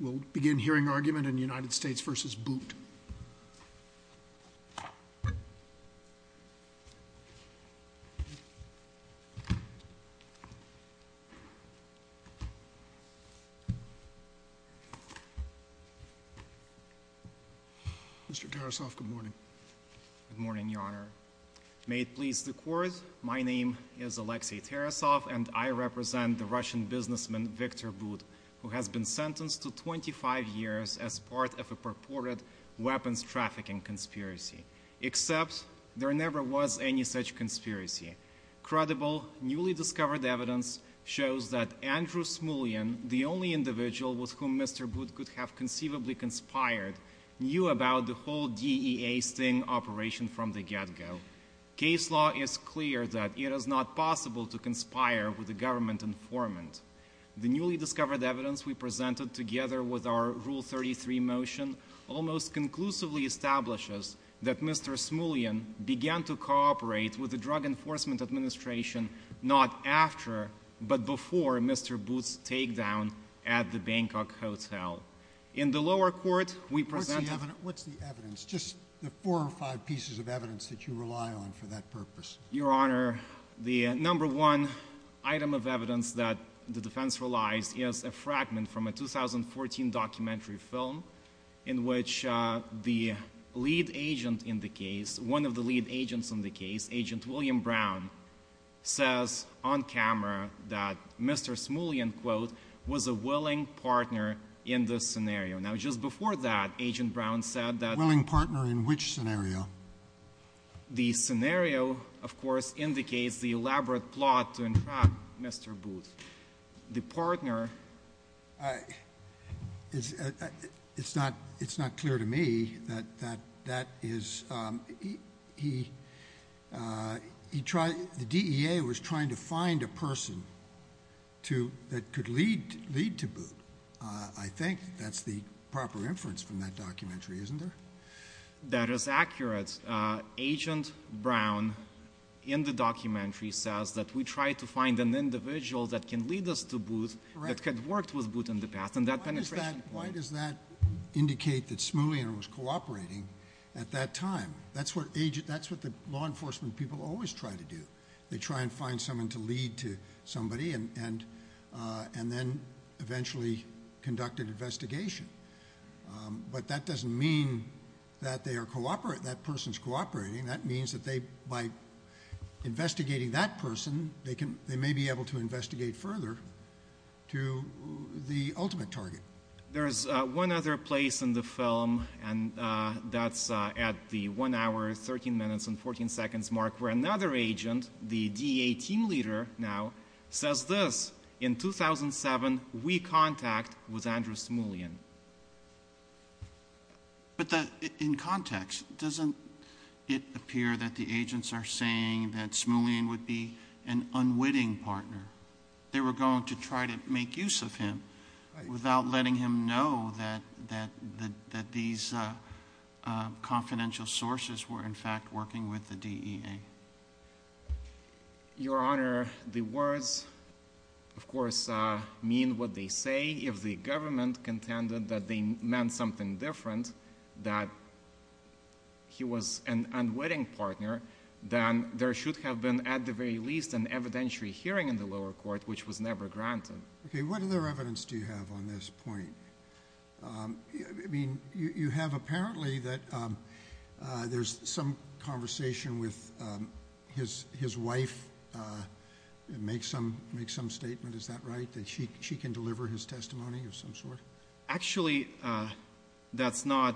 We'll begin hearing argument in United States v. Booth. Mr. Tarasov, good morning. Good morning, Your Honor. May it please the Court, my name is Alexei Tarasov and I represent the Russian businessman Victor Booth, who has been sentenced to 25 years as part of a purported weapons trafficking conspiracy. Except, there never was any such conspiracy. Credible, newly discovered evidence shows that Andrew Smulyan, the only individual with whom Mr. Booth could have conceivably conspired, knew about the whole DEA sting operation from the get-go. Case law is clear that it is not possible to conspire with a government informant. The newly discovered evidence we presented together with our Rule 33 motion almost conclusively establishes that Mr. Smulyan began to cooperate with the Drug Enforcement Administration not after, but before Mr. Booth's takedown at the Bangkok Hotel. In the lower court, we presented... What's the evidence? Just the four or five pieces of evidence that you rely on for that purpose. Your Honor, the number one item of evidence that the defense relies is a fragment from a 2014 documentary film in which the lead agent in the case, one of the lead agents in the case, Agent William Brown, says on camera that Mr. Smulyan, quote, was a willing partner in this scenario. Now, just before that, Agent Brown said that... Willing partner in which scenario? The scenario, of course, indicates the elaborate plot to entrap Mr. Booth. The partner... It's not clear to me that that is... The DEA was trying to find a person that could lead to Booth. I think that's the proper inference from that documentary, isn't there? That is accurate. Agent Brown, in the documentary, says that we tried to find an individual that can lead us to Booth, that had worked with Booth in the past, and that penetration point... Why does that indicate that Smulyan was cooperating at that time? That's what the law enforcement people always try to do. They try and find someone to lead to somebody and then eventually conduct an investigation. But that doesn't mean that that person's cooperating. That means that by investigating that person, they may be able to investigate further to the ultimate target. There's one other place in the film, and that's at the 1 hour, 13 minutes, and 14 seconds mark, where another agent, the DEA team leader now, says this. In 2007, we contact with Andrew Smulyan. But in context, doesn't it appear that the agents are saying that Smulyan would be an unwitting partner? They were going to try to make use of him without letting him know that these confidential sources were in fact working with the DEA. Your Honor, the words, of course, mean what they say. If the government contended that they meant something different, that he was an unwitting partner, then there should have been, at the very least, an evidentiary hearing in the lower court, which was never granted. Okay, what other evidence do you have on this point? I mean, you have apparently that there's some conversation with his wife, make some statement, is that right? That she can deliver his testimony of some sort? Actually, that's not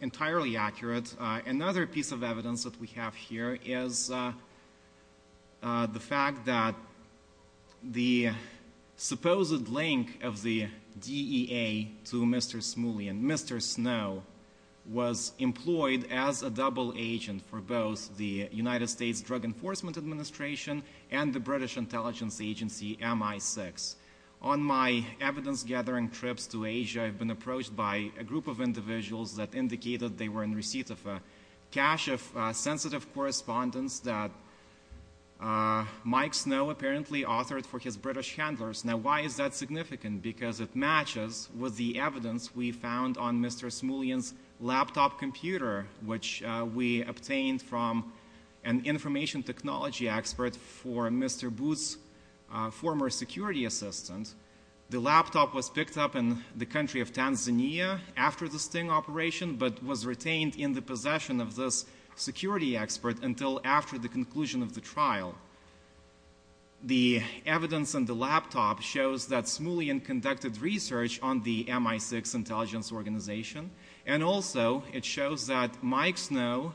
entirely accurate. Another piece of evidence that we have here is the fact that the supposed link of the DEA to Mr. Smulyan, Mr. Snow, was employed as a double agent for both the United States Drug Enforcement Administration and the British Intelligence Agency, MI6. On my evidence gathering trips to Asia, I've been approached by a group of individuals that indicated they were in receipt of a cache of sensitive correspondence that Mike Snow apparently authored for his British handlers. Now, why is that significant? Because it matches with the evidence we found on Mr. Smulyan's laptop computer, which we obtained from an information technology expert for Mr. Booth's former security assistant. The laptop was picked up in the country of Tanzania after the Sting operation, but was retained in the possession of this security expert until after the conclusion of the trial. The evidence on the laptop shows that Smulyan conducted research on the MI6 intelligence organization, and also it shows that Mike Snow,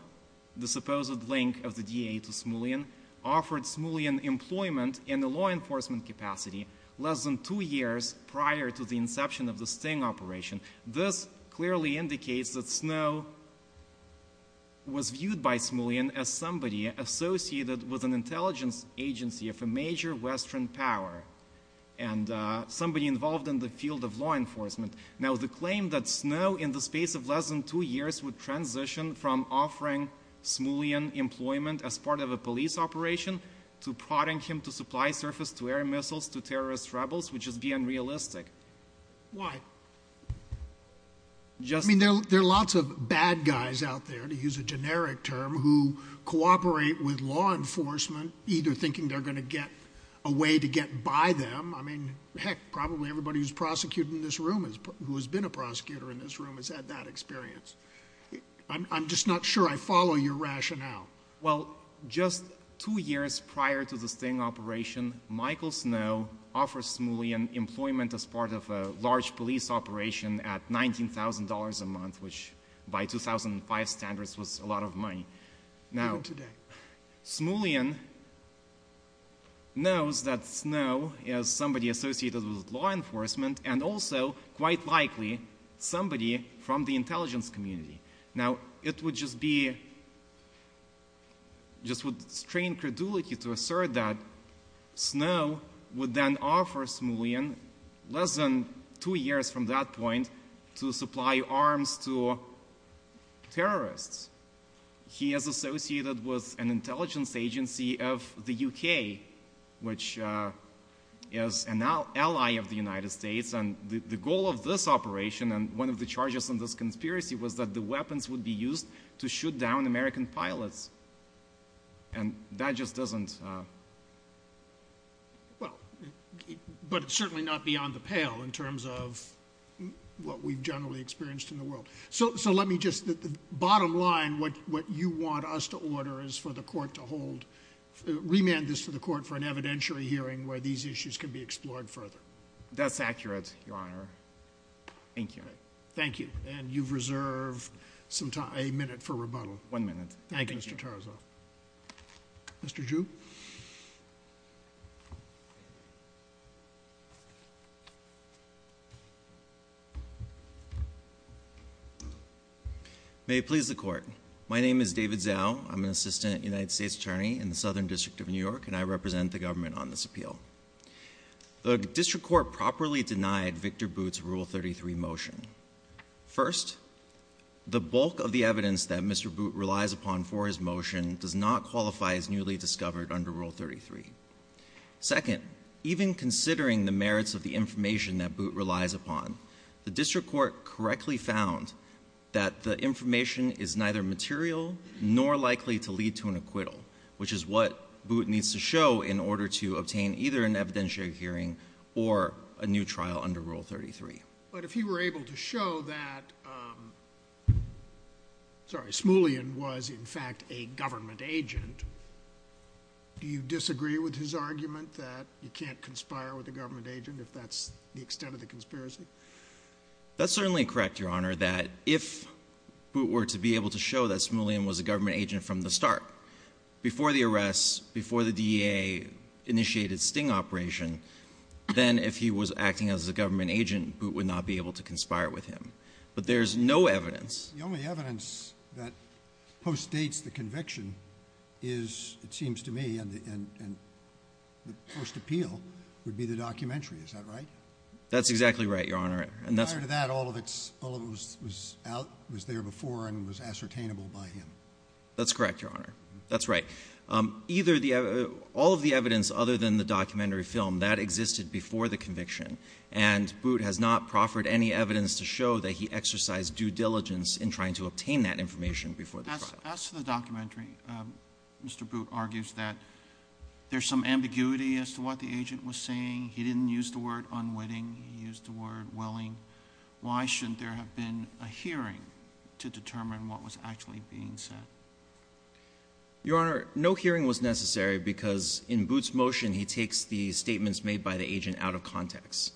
the supposed link of the DEA to Smulyan, offered Smulyan employment in the law enforcement capacity less than two years prior to the inception of the Sting operation. This clearly indicates that Snow was viewed by Smulyan as somebody associated with an intelligence agency of a major Western power, and somebody involved in the field of law enforcement. Now, the claim that Snow, in the space of less than two years, would transition from offering Smulyan employment as part of a police operation to prodding him to supply surface to air missiles to terrorist rebels would just be unrealistic. Why? I mean, there are lots of bad guys out there, to use a generic term, who cooperate with law enforcement, either thinking they're going to get a way to get by them. I mean, heck, probably everybody who's prosecuted in this room, who has been a prosecutor in this room, has had that experience. I'm just not sure I follow your rationale. Well, just two years prior to the Sting operation, Michael Snow offered Smulyan employment as part of a large police operation at $19,000 a month, which by 2005 standards was a lot of money. Even today. Smulyan knows that Snow is somebody associated with law enforcement, and also, quite likely, somebody from the intelligence community. Now, it would just be, just would strain credulity to assert that Snow would then offer Smulyan, less than two years from that point, to supply arms to terrorists. He is associated with an intelligence agency of the U.K., which is an ally of the United States, and the goal of this operation, and one of the charges in this conspiracy, was that the weapons would be used to shoot down American pilots. And that just doesn't... Well, but it's certainly not beyond the pale in terms of what we've generally experienced in the world. So let me just, the bottom line, what you want us to order is for the court to hold, remand this to the court for an evidentiary hearing where these issues can be explored further. That's accurate, Your Honor. Thank you. Thank you. And you've reserved a minute for rebuttal. One minute. Thank you, Mr. Tarasoff. Mr. Ju. May it please the court. My name is David Zhou. I'm an assistant United States attorney in the Southern District of New York, and I represent the government on this appeal. The district court properly denied Victor Boot's Rule 33 motion. First, the bulk of the evidence that Mr. Boot relies upon for his motion does not qualify as newly discovered under Rule 33. Second, even considering the merits of the information that Boot relies upon, the district court correctly found that the information is neither material nor likely to lead to an acquittal, which is what Boot needs to show in order to obtain either an evidentiary hearing or a new trial under Rule 33. But if he were able to show that, sorry, Smullyan was, in fact, a government agent, do you disagree with his argument that you can't conspire with a government agent if that's the extent of the conspiracy? That's certainly correct, Your Honor, that if Boot were to be able to show that Smullyan was a government agent from the start, before the arrest, before the DEA initiated Sting operation, then if he was acting as a government agent, Boot would not be able to conspire with him. But there's no evidence. The only evidence that postdates the conviction is, it seems to me, and the first appeal would be the documentary. Is that right? That's exactly right, Your Honor. Prior to that, all of it was out, was there before, and was ascertainable by him. That's correct, Your Honor. That's right. All of the evidence other than the documentary film, that existed before the conviction, and Boot has not proffered any evidence to show that he exercised due diligence in trying to obtain that information before the trial. As to the documentary, Mr. Boot argues that there's some ambiguity as to what the agent was saying. He didn't use the word unwitting. He used the word willing. Why shouldn't there have been a hearing to determine what was actually being said? Your Honor, no hearing was necessary because in Boot's motion, he takes the statements made by the agent out of context.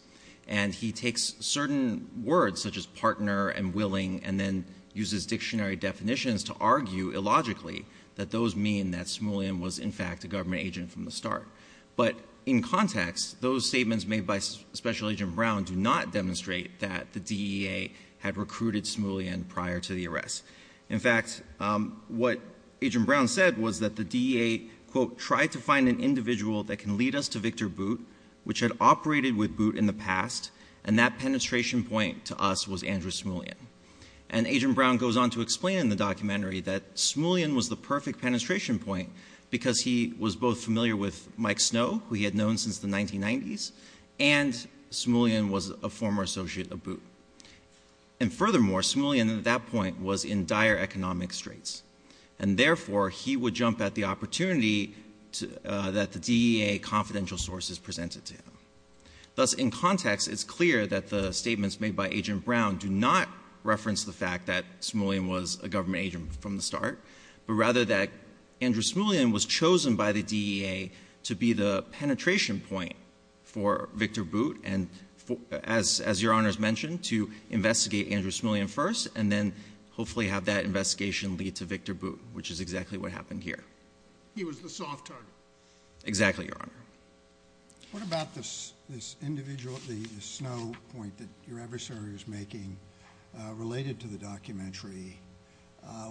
And he takes certain words, such as partner and willing, and then uses dictionary definitions to argue illogically that those mean that Smullyan was, in fact, a government agent from the start. But in context, those statements made by Special Agent Brown do not demonstrate that the DEA had recruited Smullyan prior to the arrest. In fact, what Agent Brown said was that the DEA, quote, tried to find an individual that can lead us to Victor Boot, which had operated with Boot in the past, and that penetration point to us was Andrew Smullyan. And Agent Brown goes on to explain in the documentary that Smullyan was the perfect penetration point because he was both familiar with Mike Snow, who he had known since the 1990s, and Smullyan was a former associate of Boot. And furthermore, Smullyan at that point was in dire economic straits. And therefore, he would jump at the opportunity that the DEA confidential sources presented to him. Thus, in context, it's clear that the statements made by Agent Brown do not reference the fact that Smullyan was a government agent from the start, but rather that Andrew Smullyan was chosen by the DEA to be the penetration point for Victor Boot. And as Your Honor has mentioned, to investigate Andrew Smullyan first and then hopefully have that investigation lead to Victor Boot, which is exactly what happened here. He was the soft target. Exactly, Your Honor. What about this individual, the Snow point that your adversary was making related to the documentary?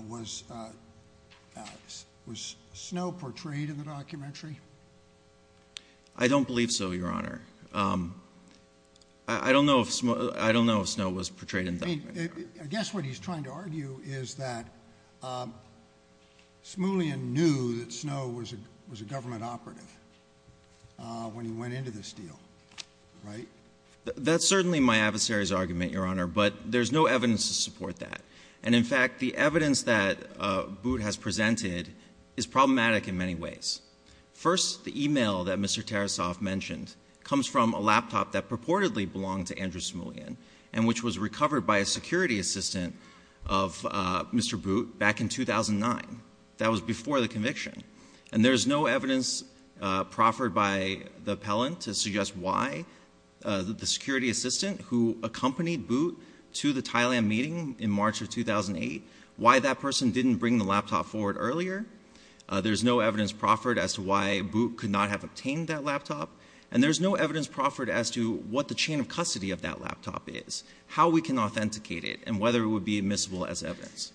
Was Snow portrayed in the documentary? I don't believe so, Your Honor. I don't know if Snow was portrayed in the documentary. I guess what he's trying to argue is that Smullyan knew that Snow was a government operative when he went into this deal, right? That's certainly my adversary's argument, Your Honor, but there's no evidence to support that. And in fact, the evidence that Boot has presented is problematic in many ways. First, the email that Mr. Tarasov mentioned comes from a laptop that purportedly belonged to Andrew Smullyan and which was recovered by a security assistant of Mr. Boot back in 2009. That was before the conviction. And there's no evidence proffered by the appellant to suggest why the security assistant who accompanied Boot to the Thailand meeting in March of 2008, why that person didn't bring the laptop forward earlier. There's no evidence proffered as to why Boot could not have obtained that laptop. And there's no evidence proffered as to what the chain of custody of that laptop is, how we can authenticate it, and whether it would be admissible as evidence.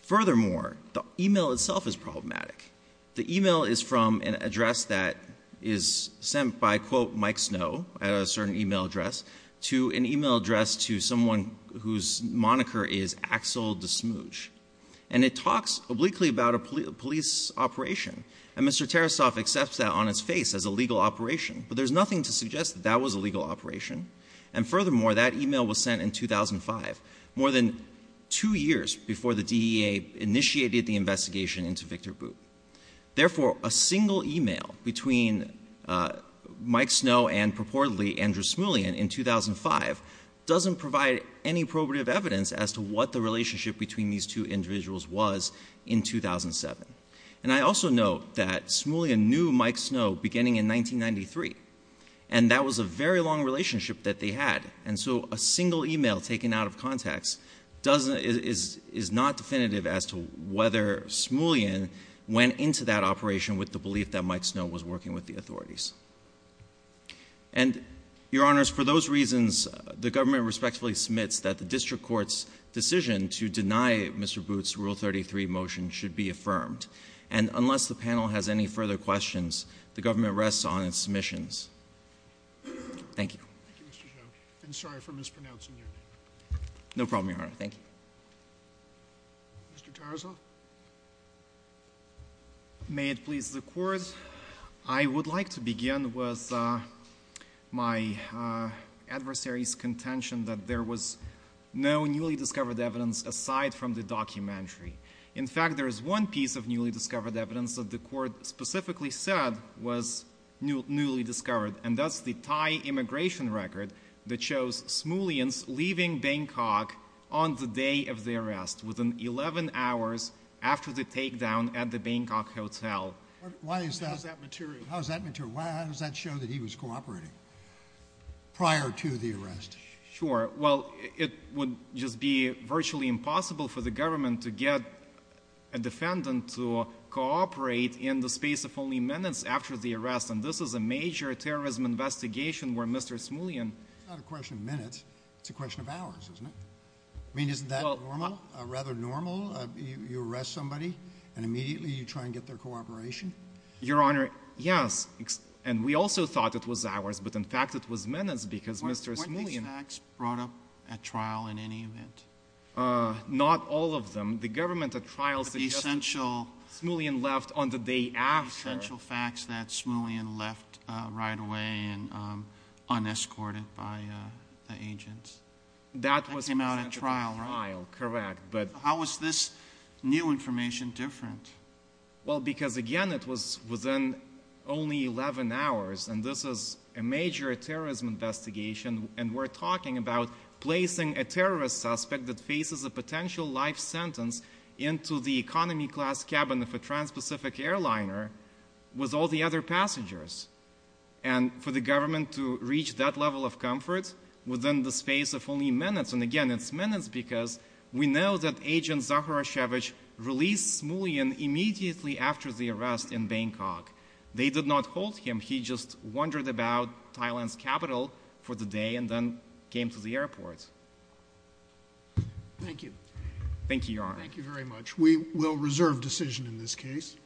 Furthermore, the email itself is problematic. The email is from an address that is sent by, quote, Mike Snow, a certain email address, to an email address to someone whose moniker is Axel Desmouge. And it talks obliquely about a police operation. And Mr. Tarasov accepts that on his face as a legal operation. But there's nothing to suggest that that was a legal operation. And furthermore, that email was sent in 2005, more than two years before the DEA initiated the investigation into Victor Boot. Therefore, a single email between Mike Snow and purportedly Andrew Smullyan in 2005 doesn't provide any probative evidence as to what the relationship between these two individuals was in 2007. And I also note that Smullyan knew Mike Snow beginning in 1993. And that was a very long relationship that they had. And so a single email taken out of context is not definitive as to whether Smullyan went into that operation with the belief that Mike Snow was working with the authorities. And, Your Honors, for those reasons, the government respectfully submits that district court's decision to deny Mr. Boot's Rule 33 motion should be affirmed. And unless the panel has any further questions, the government rests on its submissions. Thank you. Thank you, Mr. Zhou. I'm sorry for mispronouncing your name. No problem, Your Honor. Thank you. Mr. Tarasov. May it please the Court. I would like to begin with my adversary's contention that there was no newly discovered evidence aside from the documentary. In fact, there is one piece of newly discovered evidence that the Court specifically said was newly discovered, and that's the Thai immigration record that shows Smullyan leaving Bangkok on the day of the arrest, within 11 hours after the takedown at the Bangkok Hotel. How is that material? How is that material? How does that show that he was cooperating prior to the arrest? Sure. Well, it would just be virtually impossible for the government to get a defendant to cooperate in the space of only minutes after the arrest, and this is a major terrorism investigation where Mr. Smullyan... It's not a question of minutes. It's a question of hours, isn't it? I mean, isn't that normal, rather normal? You arrest somebody and immediately you try and get their cooperation? Your Honor, yes, and we also thought it was hours, but in fact it was minutes because Mr. Smullyan... Weren't these facts brought up at trial in any event? Not all of them. The government at trial suggested... But the essential...... Smullyan left on the day after. But the essential facts that Smullyan left right away unescorted by the agents. That was presented at trial, correct, but... How is this new information different? Well, because, again, it was within only 11 hours, and this is a major terrorism investigation, and we're talking about placing a terrorist suspect that faces a potential life sentence into the economy class cabin of a trans-Pacific airliner with all the other passengers. And for the government to reach that level of comfort within the space of only minutes, and, again, it's minutes because we know that Agent Zaharashevich released Smullyan immediately after the arrest in Bangkok. They did not hold him. He just wandered about Thailand's capital for the day and then came to the airport. Thank you. Thank you, Your Honor. Thank you very much. We will reserve decision in this case.